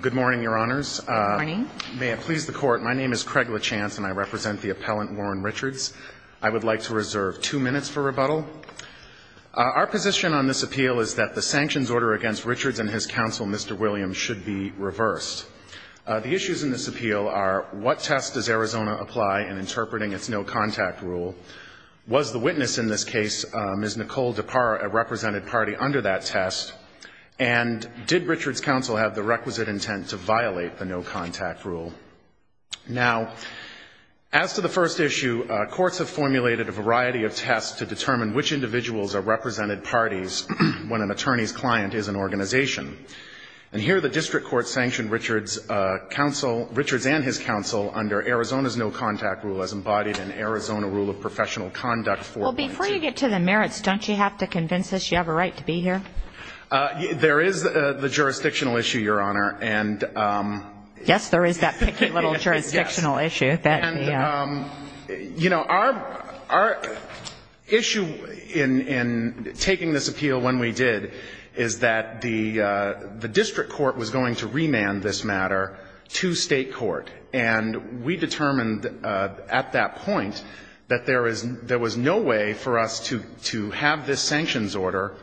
Good morning, Your Honors. Good morning. May it please the Court, my name is Craig LaChance, and I represent the appellant Warren Richards. I would like to reserve two minutes for rebuttal. Our position on this appeal is that the sanctions order against Richards and his counsel, Mr. Williams, should be reversed. The issues in this appeal are what test does Arizona apply in interpreting its no-contact rule? Was the witness in this case, Ms. Nicole Depar, a represented party under that test? And did Richards' counsel have the requisite intent to violate the no-contact rule? Now, as to the first issue, courts have formulated a variety of tests to determine which individuals are represented parties when an attorney's client is an organization. And here the district court sanctioned Richards' counsel, Richards and his counsel, under Arizona's no-contact rule as embodied in Arizona Rule of Professional Conduct 4.2. Due to the merits, don't you have to convince us you have a right to be here? There is the jurisdictional issue, Your Honor. Yes, there is that picky little jurisdictional issue. You know, our issue in taking this appeal when we did is that the district court was going to remand this matter to state court. And we determined at that point that there was no way for us to have this sanctions order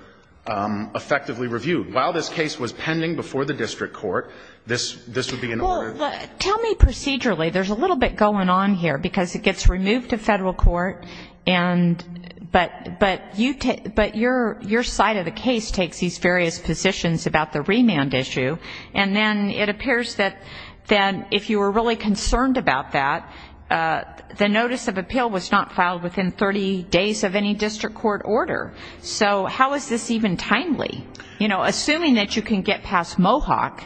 effectively reviewed. While this case was pending before the district court, this would be in order. Well, tell me procedurally. There's a little bit going on here because it gets removed to Federal court, but your side of the case takes these various positions about the remand issue. And then it appears that then if you were really concerned about that, the notice of appeal was not filed within 30 days of any district court order. So how is this even timely? You know, assuming that you can get past Mohawk,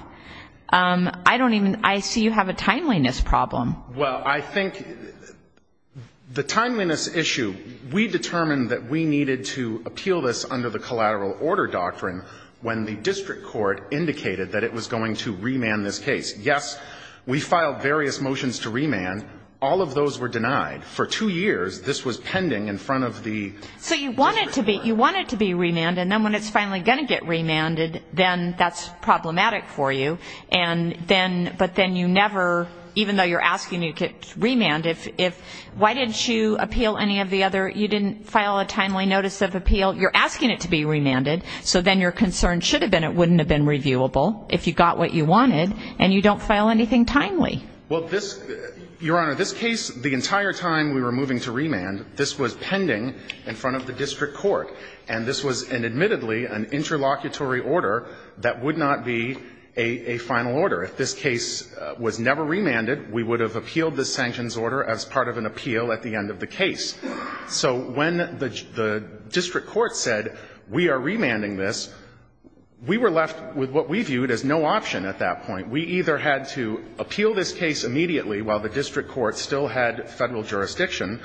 I don't even see you have a timeliness problem. Well, I think the timeliness issue, we determined that we needed to appeal this under the collateral order doctrine when the district court indicated that it was going to remand this case. Yes, we filed various motions to remand. All of those were denied. For two years, this was pending in front of the district court. So you want it to be remanded. And then when it's finally going to get remanded, then that's problematic for you. But then you never, even though you're asking it to remand, if why didn't you appeal any of the other, you didn't file a timely notice of appeal, you're asking it to be remanded, so then your concern should have been it wouldn't have been reviewable if you got what you wanted, and you don't file anything timely. Well, this, Your Honor, this case, the entire time we were moving to remand, this was pending in front of the district court. And this was admittedly an interlocutory order that would not be a final order. If this case was never remanded, we would have appealed the sanctions order as part of an appeal at the end of the case. So when the district court said we are remanding this, we were left with what we viewed as no option at that point. We either had to appeal this case immediately while the district court still had Federal jurisdiction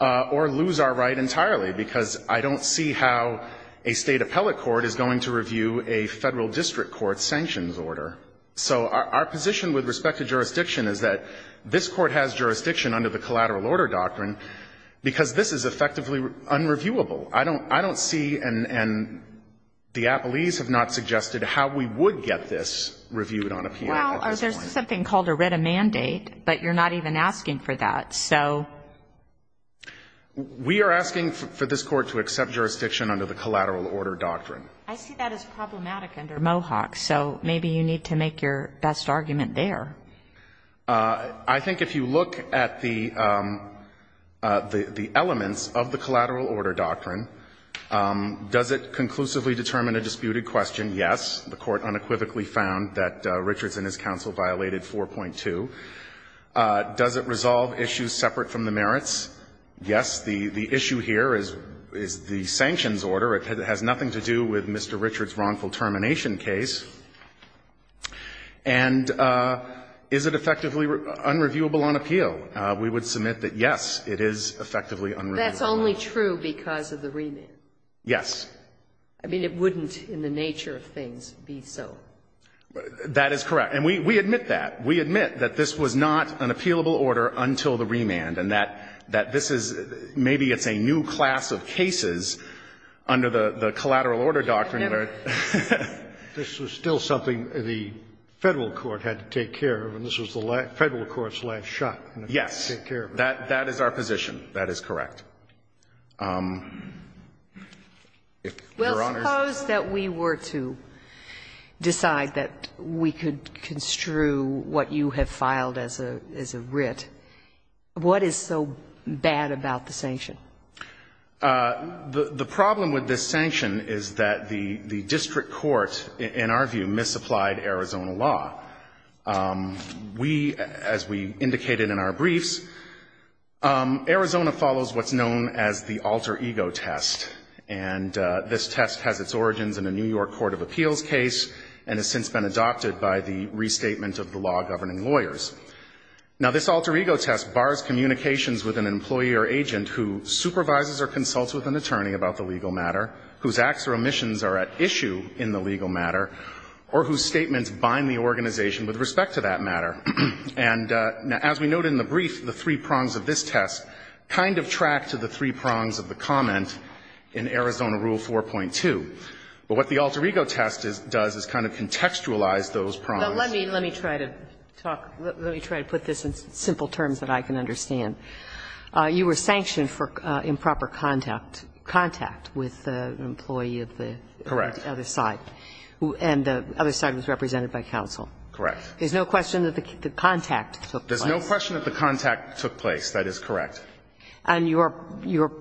or lose our right entirely, because I don't see how a State appellate court is going to review a Federal district court's sanctions order. So our position with respect to jurisdiction is that this court has jurisdiction under the collateral order doctrine because this is effectively unreviewable. I don't see and the appellees have not suggested how we would get this reviewed on appeal at this point. Well, there's something called a writ of mandate, but you're not even asking for that. So we are asking for this court to accept jurisdiction under the collateral order doctrine. I see that as problematic under Mohawk, so maybe you need to make your best argument there. I think if you look at the elements of the collateral order doctrine, does it conclusively determine a disputed question? Yes. The court unequivocally found that Richards and his counsel violated 4.2. Does it resolve issues separate from the merits? Yes. The issue here is the sanctions order. It has nothing to do with Mr. Richards' wrongful termination case. And is it effectively unreviewable on appeal? We would submit that, yes, it is effectively unreviewable. That's only true because of the remit? Yes. I mean, it wouldn't in the nature of things be so. That is correct. And we admit that. We admit that this was not an appealable order until the remand, and that this is maybe it's a new class of cases under the collateral order doctrine. Never. This was still something the Federal court had to take care of, and this was the Federal court's last shot. Yes. That is our position. That is correct. Your Honor. Suppose that we were to decide that we could construe what you have filed as a writ. What is so bad about the sanction? The problem with this sanction is that the district court, in our view, misapplied Arizona law. We, as we indicated in our briefs, Arizona follows what's known as the alter ego test. And this test has its origins in a New York court of appeals case and has since been adopted by the restatement of the law governing lawyers. Now, this alter ego test bars communications with an employee or agent who supervises or consults with an attorney about the legal matter, whose acts or omissions are at issue in the legal matter, or whose statements bind the organization with respect to that matter. And as we noted in the brief, the three prongs of this test kind of track to the three prongs in Arizona Rule 4.2. But what the alter ego test does is kind of contextualize those prongs. But let me try to talk, let me try to put this in simple terms that I can understand. You were sanctioned for improper contact with an employee of the other side. Correct. And the other side was represented by counsel. Correct. There's no question that the contact took place. There's no question that the contact took place. That is correct. And your, your,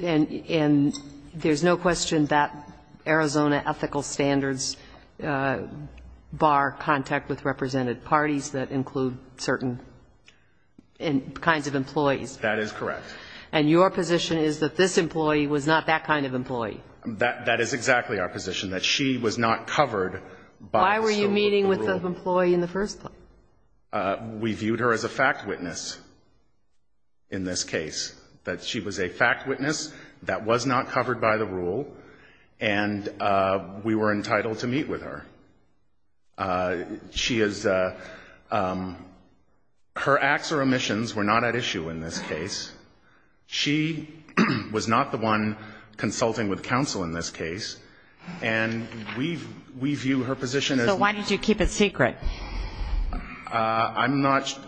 and there's no question that Arizona ethical standards bar contact with represented parties that include certain kinds of employees. That is correct. And your position is that this employee was not that kind of employee. That is exactly our position, that she was not covered by the rule. Why were you meeting with the employee in the first place? We viewed her as a fact witness in this case, that she was a fact witness that was not covered by the rule, and we were entitled to meet with her. She is, her acts or omissions were not at issue in this case. She was not the one consulting with counsel in this case. And we view her position as. So why did you keep it secret? I'm not.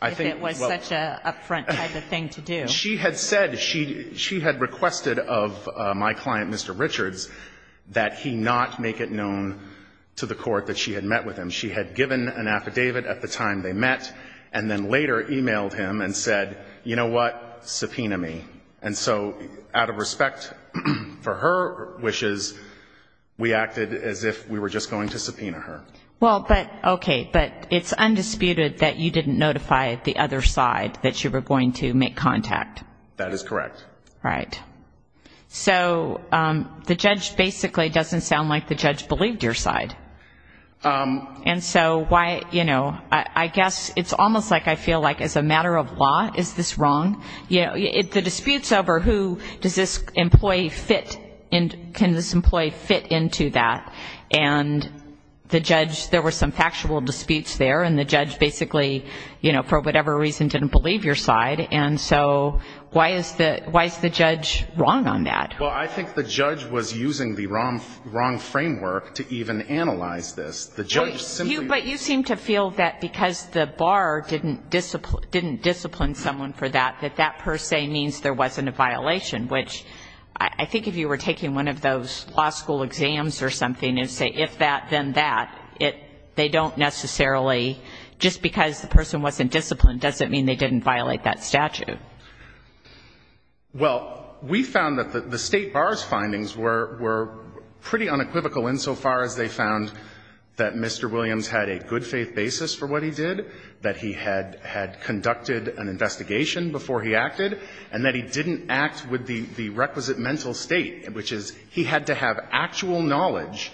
I think. It was such an upfront kind of thing to do. She had said, she had requested of my client, Mr. Richards, that he not make it known to the court that she had met with him. She had given an affidavit at the time they met, and then later emailed him and said, you know what, subpoena me. And so out of respect for her wishes, we acted as if we were just going to subpoena her. Well, but, okay, but it's undisputed that you didn't notify the other side that you were going to make contact. That is correct. Right. So the judge basically doesn't sound like the judge believed your side. And so why, you know, I guess it's almost like I feel like as a matter of law, is this wrong? You know, the disputes over who does this employee fit, can this employee fit into that, and the judge, there were some factual disputes there, and the judge basically, you know, for whatever reason didn't believe your side. And so why is the judge wrong on that? Well, I think the judge was using the wrong framework to even analyze this. But you seem to feel that because the bar didn't discipline someone for that, that that per se means there wasn't a violation, which I think if you were taking one of those law school exams or something and say if that, then that, they don't necessarily, just because the person wasn't disciplined doesn't mean they didn't violate that statute. Well, we found that the state bar's findings were pretty unequivocal insofar as they found that Mr. Williams had a good faith basis for what he did, that he had conducted an investigation before he acted, and that he didn't act with the requisite mental state, which is he had to have actual knowledge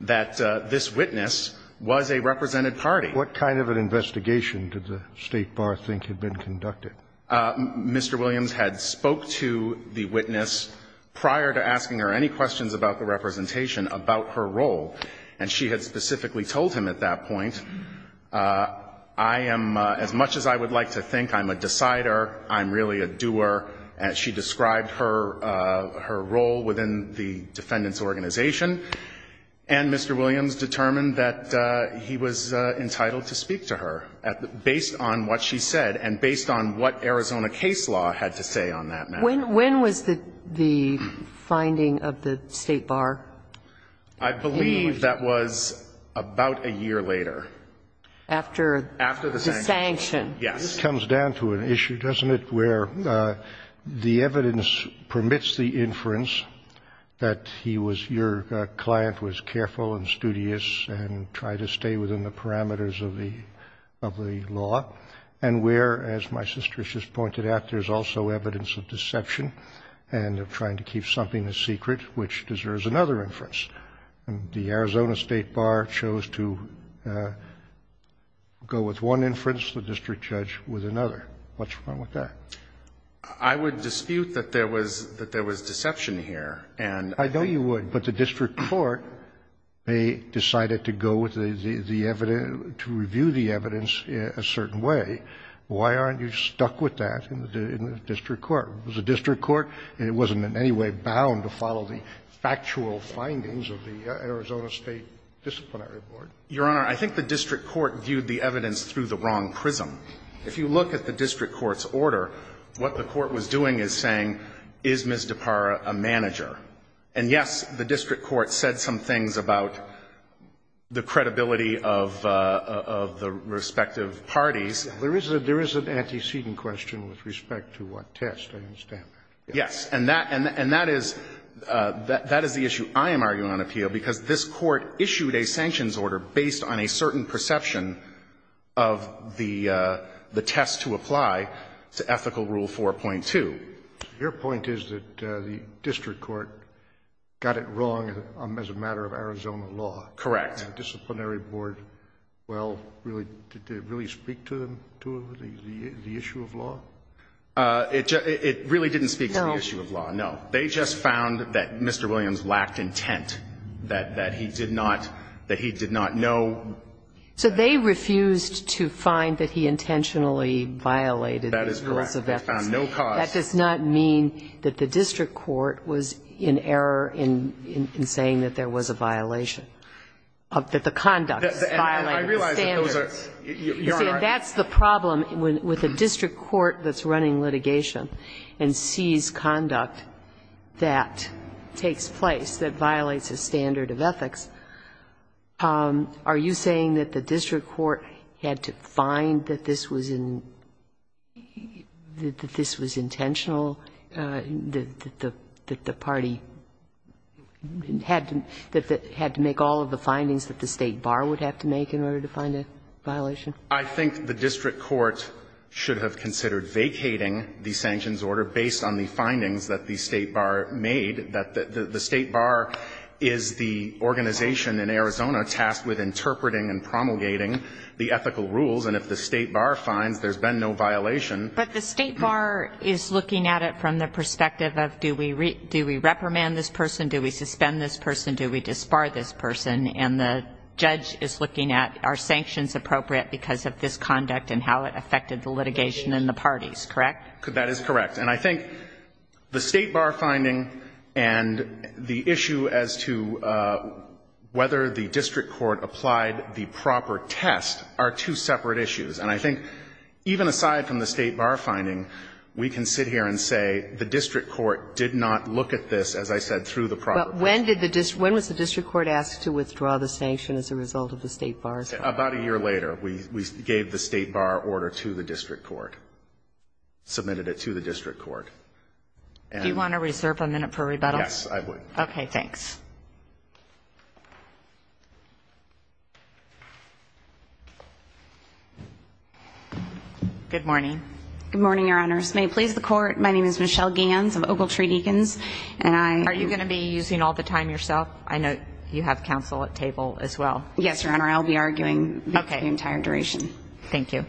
that this witness was a represented party. What kind of an investigation did the state bar think had been conducted? Mr. Williams had spoke to the witness prior to asking her any questions about the representation about her role, and she had specifically told him at that point, I am, as much as I would like to think, I'm a decider, I'm really a doer. She described her role within the defendant's organization, and Mr. Williams determined that he was entitled to speak to her based on what she said and based on what Arizona case law had to say on that matter. When was the finding of the state bar? I believe that was about a year later. After the sanction. After the sanction. Yes. This comes down to an issue, doesn't it, where the evidence permits the inference that he was, your client was careful and studious and tried to stay within the parameters of the law, and where, as my sister has just pointed out, there is also evidence of deception and of trying to keep something a secret which deserves another inference. The Arizona State Bar chose to go with one inference, the district judge with another. What's wrong with that? I would dispute that there was deception here. I know you would, but the district court, they decided to go with the evidence to review the evidence a certain way. Why aren't you stuck with that in the district court? It was a district court, and it wasn't in any way bound to follow the factual findings of the Arizona State Disciplinary Board. Your Honor, I think the district court viewed the evidence through the wrong prism. If you look at the district court's order, what the court was doing is saying, is Ms. DiPara a manager? And yes, the district court said some things about the credibility of the respective parties. There is an antecedent question with respect to what test. I understand that. Yes. And that is the issue I am arguing on appeal, because this Court issued a sanctions order based on a certain perception of the test to apply to Ethical Rule 4.2. Your point is that the district court got it wrong as a matter of Arizona law. Correct. The disciplinary board, well, did it really speak to the issue of law? It really didn't speak to the issue of law, no. They just found that Mr. Williams lacked intent, that he did not know. So they refused to find that he intentionally violated the rules of ethics. That is correct. They found no cause. That does not mean that the district court was in error in saying that there was a violation. That the conduct violated the standards. I realize that those are your arguments. That's the problem with a district court that's running litigation and sees conduct that takes place that violates a standard of ethics. Are you saying that the district court had to find that this was intentional, that the party had to make all of the findings that the State Bar would have to make in order to find a violation? I think the district court should have considered vacating the sanctions order based on the findings that the State Bar made. The State Bar is the organization in Arizona tasked with interpreting and promulgating the ethical rules. And if the State Bar finds there's been no violation. But the State Bar is looking at it from the perspective of do we reprimand this person, do we suspend this person, do we disbar this person? And the judge is looking at are sanctions appropriate because of this conduct and how it affected the litigation and the parties, correct? That is correct. And I think the State Bar finding and the issue as to whether the district court applied the proper test are two separate issues. And I think even aside from the State Bar finding, we can sit here and say the district court did not look at this, as I said, through the proper test. When was the district court asked to withdraw the sanction as a result of the State Bar finding? About a year later, we gave the State Bar order to the district court, submitted it to the district court. Do you want to reserve a minute for rebuttal? Yes, I would. Okay, thanks. Good morning. Good morning, Your Honors. May it please the Court, my name is Michelle Gans of Ogletree Deacons and I Are you going to be using all the time yourself? I know you have counsel at table as well. Yes, Your Honor. I'll be arguing the entire duration. Okay. Thank you.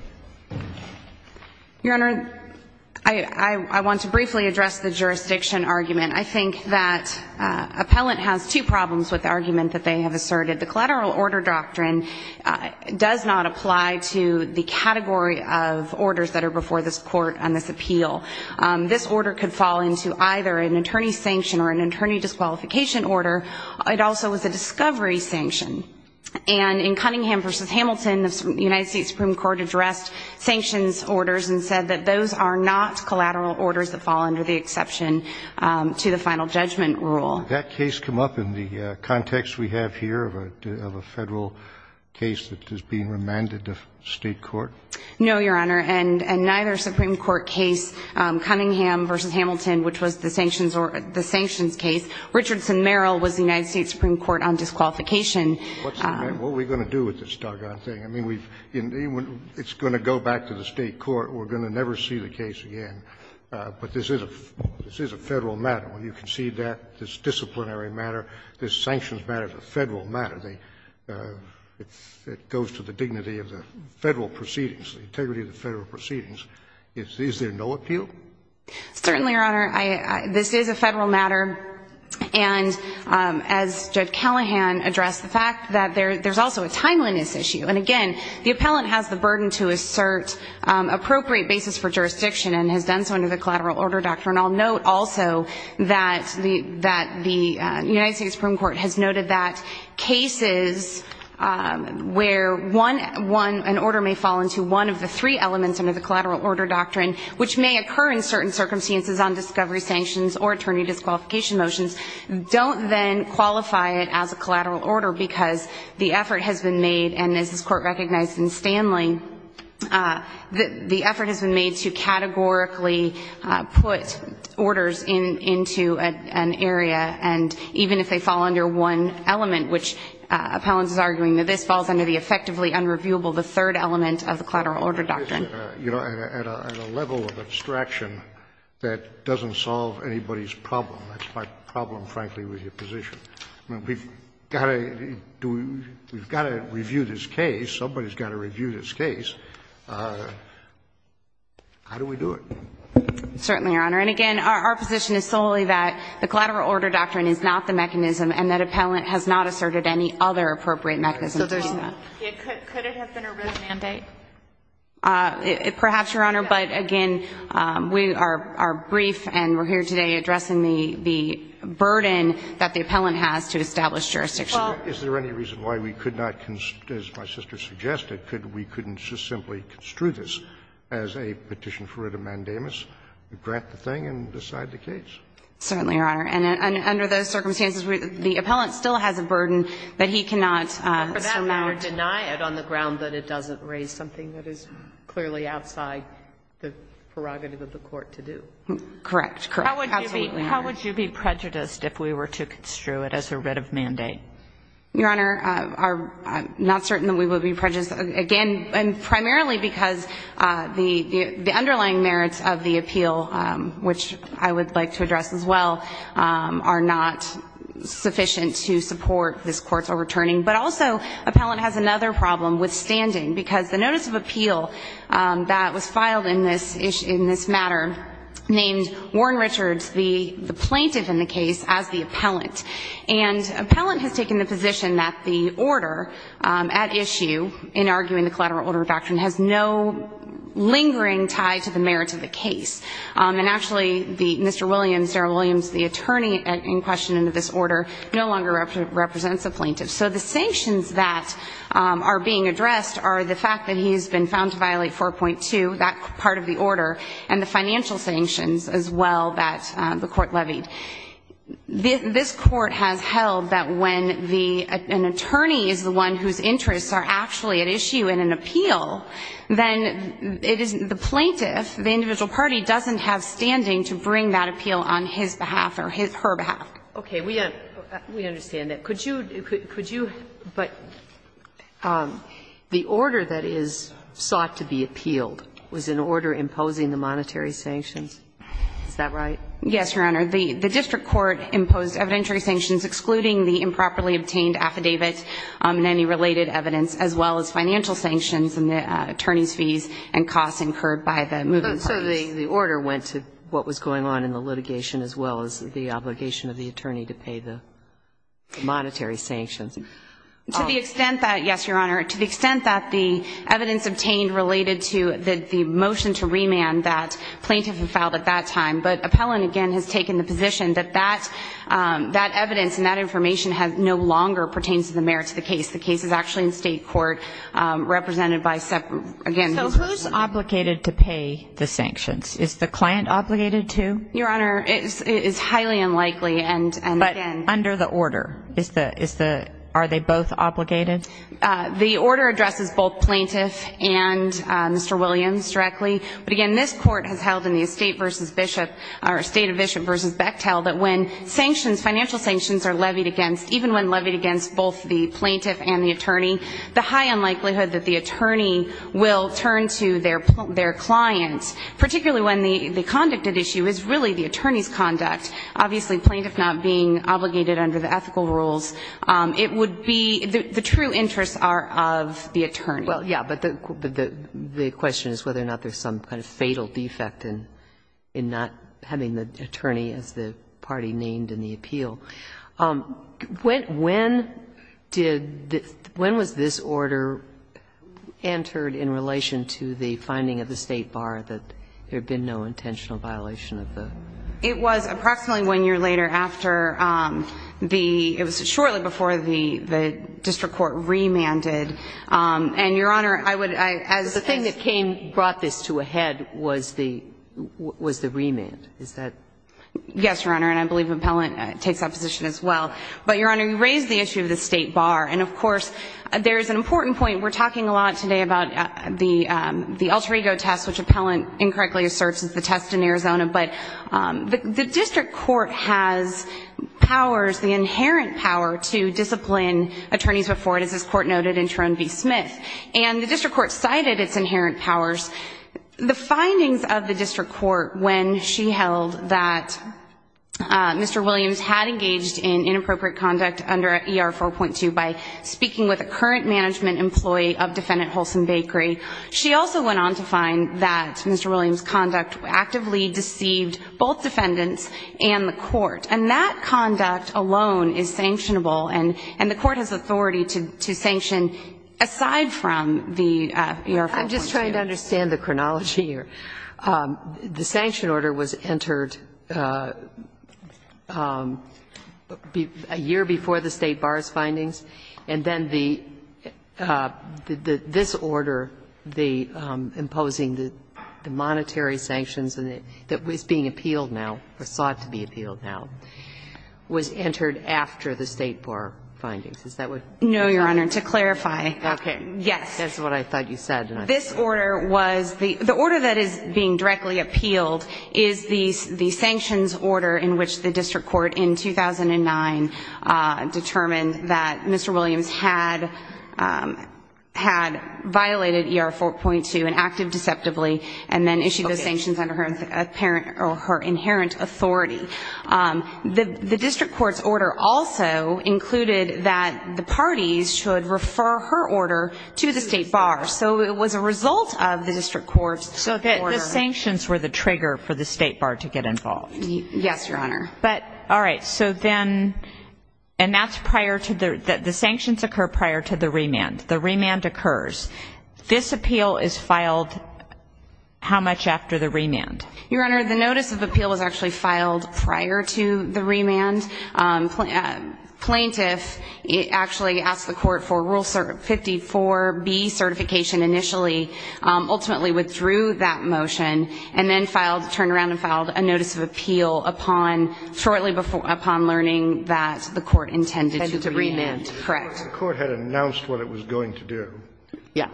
Your Honor, I want to briefly address the jurisdiction argument. I think that an appellant has the right to appeal. I think that an appellant has two problems with the argument that they have asserted. The collateral order doctrine does not apply to the category of orders that are before this court on this appeal. This order could fall into either an attorney's sanction or an attorney disqualification order. It also was a discovery sanction. And in Cunningham v. Hamilton, the United States Supreme Court addressed sanctions orders and said that those are not collateral orders that fall under the exception to the final judgment rule. Has that case come up in the context we have here of a Federal case that is being remanded to State court? No, Your Honor. And neither Supreme Court case, Cunningham v. Hamilton, which was the sanctions case, Richardson-Merrill was the United States Supreme Court on disqualification. What are we going to do with this doggone thing? I mean, it's going to go back to the State court. We're going to never see the case again. But this is a Federal matter. When you concede that, it's a disciplinary matter. This sanctions matter is a Federal matter. It goes to the dignity of the Federal proceedings, the integrity of the Federal proceedings. Is there no appeal? Certainly, Your Honor. This is a Federal matter. And as Judge Callahan addressed, the fact that there's also a timeliness issue. And, again, the appellant has the burden to assert appropriate basis for jurisdiction and has done so under the collateral order doctrine. And I'll note also that the United States Supreme Court has noted that cases where an order may fall into one of the three elements under the collateral order doctrine, which may occur in certain circumstances on discovery sanctions or attorney disqualification motions, don't then qualify it as a collateral order because the effort has been made, and as this Court recognized in Stanley, the orders into an area. And even if they fall under one element, which appellants are arguing that this falls under the effectively unreviewable, the third element of the collateral order doctrine. You know, at a level of abstraction that doesn't solve anybody's problem, that's my problem, frankly, with your position. We've got to review this case. Somebody's got to review this case. How do we do it? Certainly, Your Honor. And, again, our position is solely that the collateral order doctrine is not the mechanism and that appellant has not asserted any other appropriate mechanism to do that. Could it have been a written mandate? Perhaps, Your Honor, but again, we are brief and we're here today addressing the burden that the appellant has to establish jurisdiction. Is there any reason why we could not, as my sister suggested, we couldn't just simply construe this as a petition for writ of mandamus, grant the thing and decide the case? Certainly, Your Honor. And under those circumstances, the appellant still has a burden that he cannot sum out. But for that matter, deny it on the ground that it doesn't raise something that is clearly outside the prerogative of the court to do. Correct. Correct. Absolutely, Your Honor. How would you be prejudiced if we were to construe it as a writ of mandate? Your Honor, I'm not certain that we would be prejudiced. Again, and primarily because the underlying merits of the appeal, which I would like to address as well, are not sufficient to support this Court's overturning. But also, appellant has another problem with standing, because the notice of appeal that was filed in this matter named Warren Richards, the plaintiff in the case, as the appellant. And appellant has taken the position that the order at issue in arguing the collateral order of action has no lingering tie to the merits of the case. And actually, Mr. Williams, Sarah Williams, the attorney in question under this order, no longer represents the plaintiff. So the sanctions that are being addressed are the fact that he has been found to violate 4.2, that part of the order, and the financial sanctions as well that the court levied. This Court has held that when the attorney is the one whose interests are actually at issue in an appeal, then it is the plaintiff, the individual party, doesn't have standing to bring that appeal on his behalf or her behalf. Okay. We understand that. Could you, but the order that is sought to be appealed was an order imposing the monetary sanctions. Is that right? Yes, Your Honor. The district court imposed evidentiary sanctions excluding the improperly obtained affidavit and any related evidence as well as financial sanctions and the attorney's fees and costs incurred by the moving parties. So the order went to what was going on in the litigation as well as the obligation of the attorney to pay the monetary sanctions. To the extent that, yes, Your Honor, to the extent that the evidence obtained related to the motion to remand that plaintiff had filed at that time. But Appellant, again, has taken the position that that evidence and that information no longer pertains to the merits of the case. The case is actually in state court represented by separate, again, the district court. So who is obligated to pay the sanctions? Is the client obligated to? Your Honor, it is highly unlikely. But under the order, are they both obligated? The order addresses both plaintiff and Mr. Williams directly. But again, this court has held in the estate versus bishop or estate of bishop versus Bechtel that when sanctions, financial sanctions are levied against, even when levied against both the plaintiff and the attorney, the high unlikelihood that the attorney will turn to their client, particularly when the conduct at issue is really the attorney's conduct. Obviously, plaintiff not being obligated under the ethical rules, it would be the true interests are of the attorney. Well, yeah. But the question is whether or not there's some kind of fatal defect in not having the attorney as the party named in the appeal. When did the ‑‑ when was this order entered in relation to the finding of the State Bar that there had been no intentional violation of the ‑‑ It was approximately one year later after the ‑‑ it was shortly before the The thing that brought this to a head was the remand. Is that ‑‑ Yes, Your Honor, and I believe Appellant takes that position as well. But, Your Honor, you raise the issue of the State Bar. And, of course, there is an important point. We're talking a lot today about the alter ego test, which Appellant incorrectly asserts is the test in Arizona. But the district court has powers, the inherent power to discipline attorneys before it, as this court noted in Trone v. Smith. And the district court cited its inherent powers. The findings of the district court, when she held that Mr. Williams had engaged in inappropriate conduct under ER 4.2 by speaking with a current management employee of defendant Holson Bakery, she also went on to find that Mr. Williams' conduct actively deceived both defendants and the court. And that conduct alone is sanctionable. And the court has authority to sanction aside from the ER 4.2. I'm just trying to understand the chronology here. The sanction order was entered a year before the State Bar's findings. And then the ‑‑ this order, the imposing the monetary sanctions that was being No, Your Honor. To clarify. Okay. Yes. That's what I thought you said. This order was ‑‑ the order that is being directly appealed is the sanctions order in which the district court in 2009 determined that Mr. Williams had violated ER 4.2 and acted deceptively and then issued the sanctions under her apparent or her inherent authority. The district court's order also included that the parties should refer her order to the State Bar. So it was a result of the district court's order. So the sanctions were the trigger for the State Bar to get involved. Yes, Your Honor. But, all right. So then, and that's prior to the ‑‑ the sanctions occur prior to the remand. The remand occurs. This appeal is filed how much after the remand? Your Honor, the notice of appeal was actually filed prior to the remand. Plaintiff actually asked the court for Rule 54B certification initially, ultimately withdrew that motion and then filed, turned around and filed a notice of appeal upon shortly before, upon learning that the court intended to remand. Correct. The court had announced what it was going to do. Yes.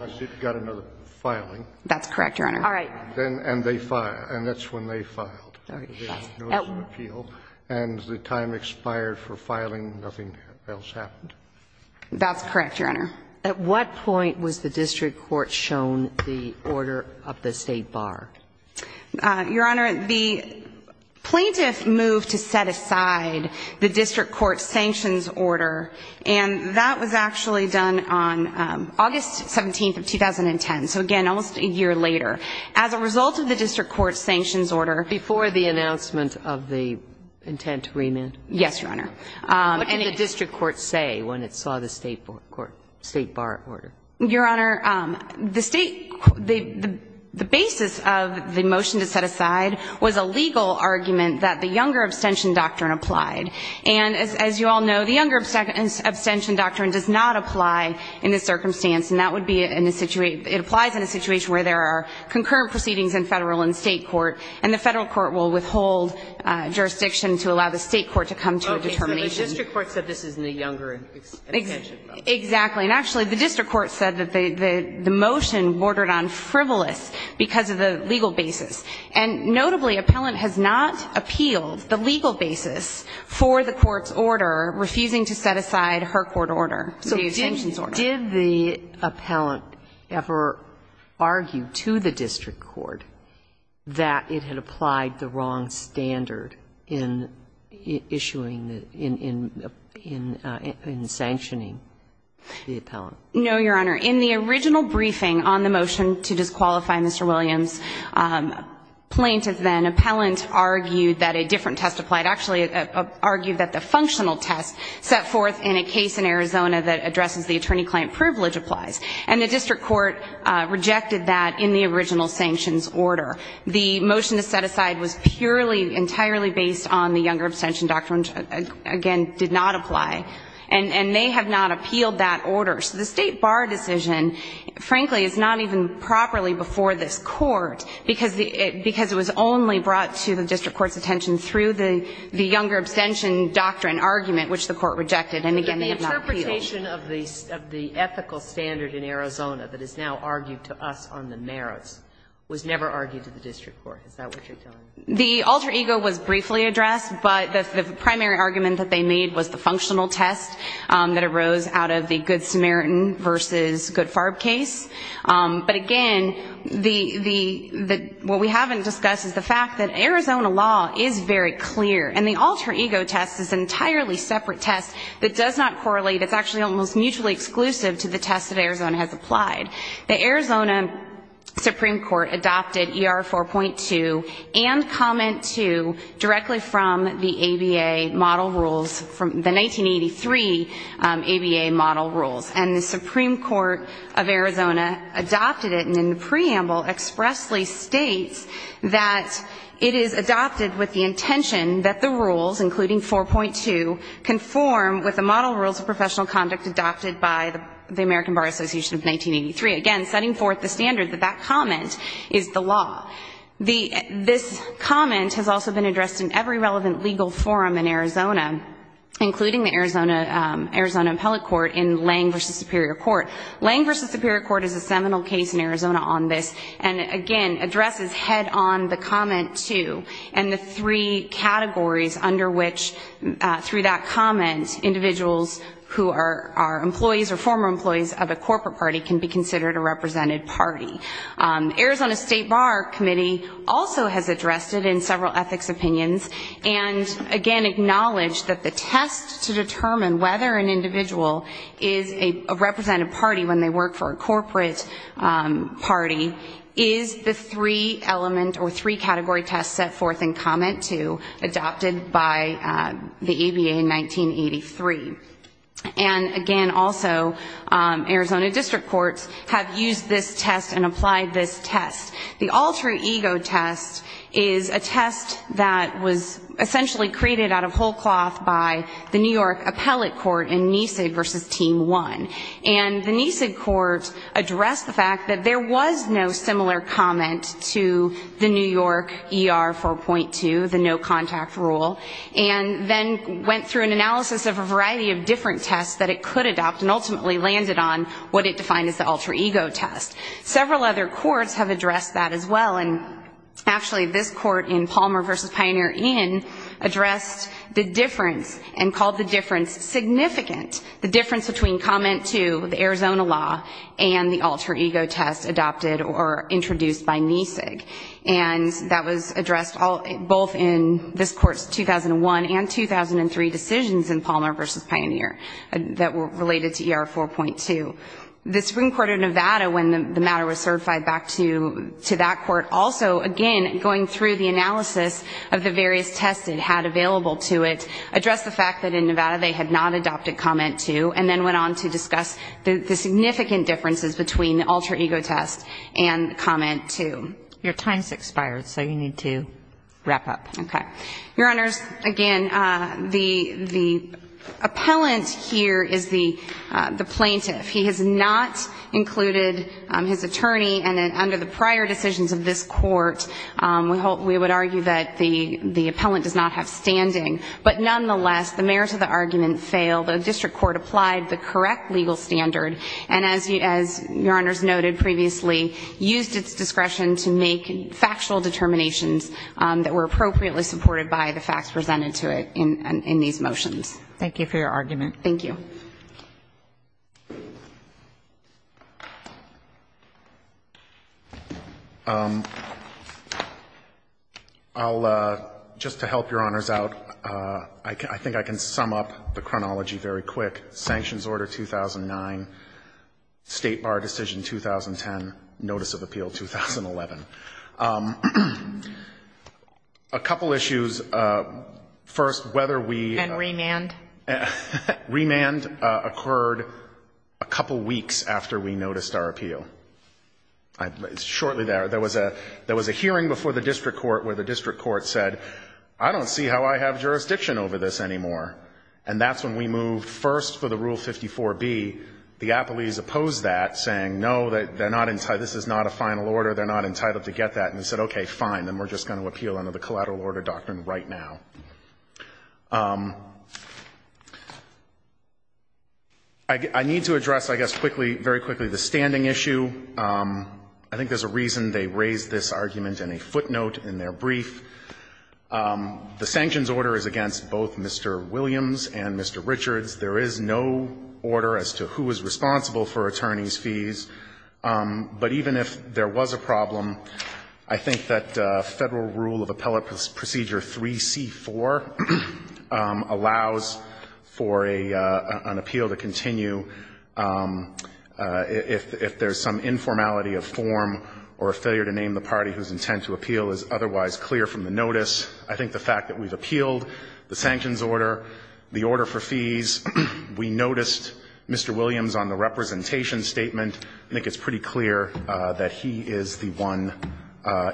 That's correct, Your Honor. All right. And they filed. And that's when they filed the notice of appeal. And the time expired for filing. Nothing else happened. That's correct, Your Honor. At what point was the district court shown the order of the State Bar? Your Honor, the plaintiff moved to set aside the district court's sanctions order. And that was actually done on August 17th of 2010. So, again, almost a year later. As a result of the district court's sanctions order. Before the announcement of the intent to remand? Yes, Your Honor. What did the district court say when it saw the State Bar order? Your Honor, the State, the basis of the motion to set aside was a legal argument that the Younger Abstention Doctrine applied. And as you all know, the Younger Abstention Doctrine does not apply in this circumstance. And that would be in a situation, it applies in a situation where there are concurrent proceedings in Federal and State court. And the Federal court will withhold jurisdiction to allow the State court to come to a determination. Okay. So the district court said this is in the Younger Abstention Doctrine. Exactly. And, actually, the district court said that the motion bordered on frivolous because of the legal basis. And, notably, appellant has not appealed the legal basis for the court's order refusing to set aside her court order, the sanctions order. Did the appellant ever argue to the district court that it had applied the wrong standard in issuing, in sanctioning the appellant? No, Your Honor. In the original briefing on the motion to disqualify Mr. Williams, plaintiff then, appellant, argued that a different test applied. Actually, argued that the functional test set forth in a case in Arizona that addresses the attorney-client privilege applies. And the district court rejected that in the original sanctions order. The motion to set aside was purely, entirely based on the Younger Abstention Doctrine, which, again, did not apply. And they have not appealed that order. So the State bar decision, frankly, is not even properly before this Court because it was only brought to the district court's attention through the Younger Abstention Doctrine argument, which the court rejected. And, again, they have not appealed. But the limitation of the ethical standard in Arizona that is now argued to us on the merits was never argued to the district court. Is that what you're telling me? The alter ego was briefly addressed. But the primary argument that they made was the functional test that arose out of the Good Samaritan v. Good Farb case. But, again, what we haven't discussed is the fact that Arizona law is very clear. And the alter ego test is an entirely separate test that does not correlate. It's actually almost mutually exclusive to the test that Arizona has applied. The Arizona Supreme Court adopted ER 4.2 and comment 2 directly from the ABA model rules, the 1983 ABA model rules. And the Supreme Court of Arizona adopted it and in the preamble expressly states that it is adopted with the intention that the rules, including 4.2, conform with the model rules of professional conduct adopted by the American Bar Association of 1983, again setting forth the standard that that comment is the law. This comment has also been addressed in every relevant legal forum in Arizona, including the Arizona appellate court in Lange v. Superior Court. Lange v. Superior Court is a seminal case in Arizona on this and, again, addresses head-on the comment 2 and the three categories under which, through that comment, individuals who are employees or former employees of a corporate party can be considered a represented party. Arizona State Bar Committee also has addressed it in several ethics opinions and, again, acknowledged that the test to determine whether an individual is a represented party when they work for a corporate party is the three element or three category test set forth in comment 2 adopted by the ABA in 1983. And, again, also Arizona district courts have used this test and applied this test. The all true ego test is a test that was essentially created out of whole cloth by the New York appellate court in Nesig v. Team 1. And the Nesig court addressed the fact that there was no similar comment to the New York ER 4.2, the no contact rule, and then went through an analysis of a variety of different tests that it could adopt and ultimately landed on what it defined as the all true ego test. Several other courts have addressed that as well. And, actually, this court in Palmer v. Pioneer Inn addressed the difference and called the difference significant, the difference between comment 2, the Arizona law, and the all true ego test adopted or introduced by Nesig. And that was addressed both in this court's 2001 and 2003 decisions in Palmer v. Pioneer that were related to ER 4.2. The Supreme Court of Nevada, when the matter was certified back to that court, also, again, going through the analysis of the various tests it had available to it, addressed the fact that in Nevada they had not adopted comment 2, and then went on to discuss the significant differences between the all true ego test and comment 2. Your time has expired, so you need to wrap up. Okay. Your Honors, again, the appellant here is the plaintiff. He has not included his attorney. And under the prior decisions of this court, we would argue that the appellant does not have standing. But, nonetheless, the merits of the argument fail. The district court applied the correct legal standard and, as Your Honors noted previously, used its discretion to make factual determinations that were appropriately supported by the facts presented to it in these motions. Thank you for your argument. Thank you. I'll, just to help Your Honors out, I think I can sum up the chronology very quick. Sanctions order 2009, State Bar decision 2010, Notice of Appeal 2011. A couple issues. First, whether we ---- And remand. Remand. Remand occurred a couple weeks after we noticed our appeal. Shortly there. There was a hearing before the district court where the district court said, I don't see how I have jurisdiction over this anymore. And that's when we moved first for the Rule 54B. The appellees opposed that, saying, no, they're not entitled, this is not a final order, they're not entitled to get that. And we said, okay, fine. Then we're just going to appeal under the collateral order doctrine right now. I need to address, I guess, quickly, very quickly, the standing issue. I think there's a reason they raised this argument in a footnote in their brief. The sanctions order is against both Mr. Williams and Mr. Richards. There is no order as to who is responsible for attorneys' fees. But even if there was a problem, I think that Federal Rule of Appellate Procedure 3C4 allows for an appeal to continue if there's some informality of form or a failure to name the party whose intent to appeal is otherwise clear from the notice. I think the fact that we've appealed the sanctions order, the order for fees, we noticed Mr. Williams on the representation statement. I think it's pretty clear that he is the one,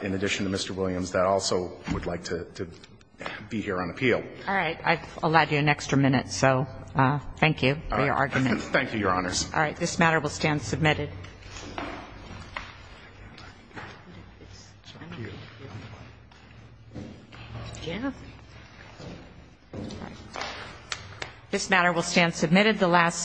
in addition to Mr. Williams, that also would like to be here on appeal. All right. I've allowed you an extra minute, so thank you for your argument. Thank you, Your Honors. All right. This matter will stand submitted. This matter will stand submitted. This matter will stand submitted.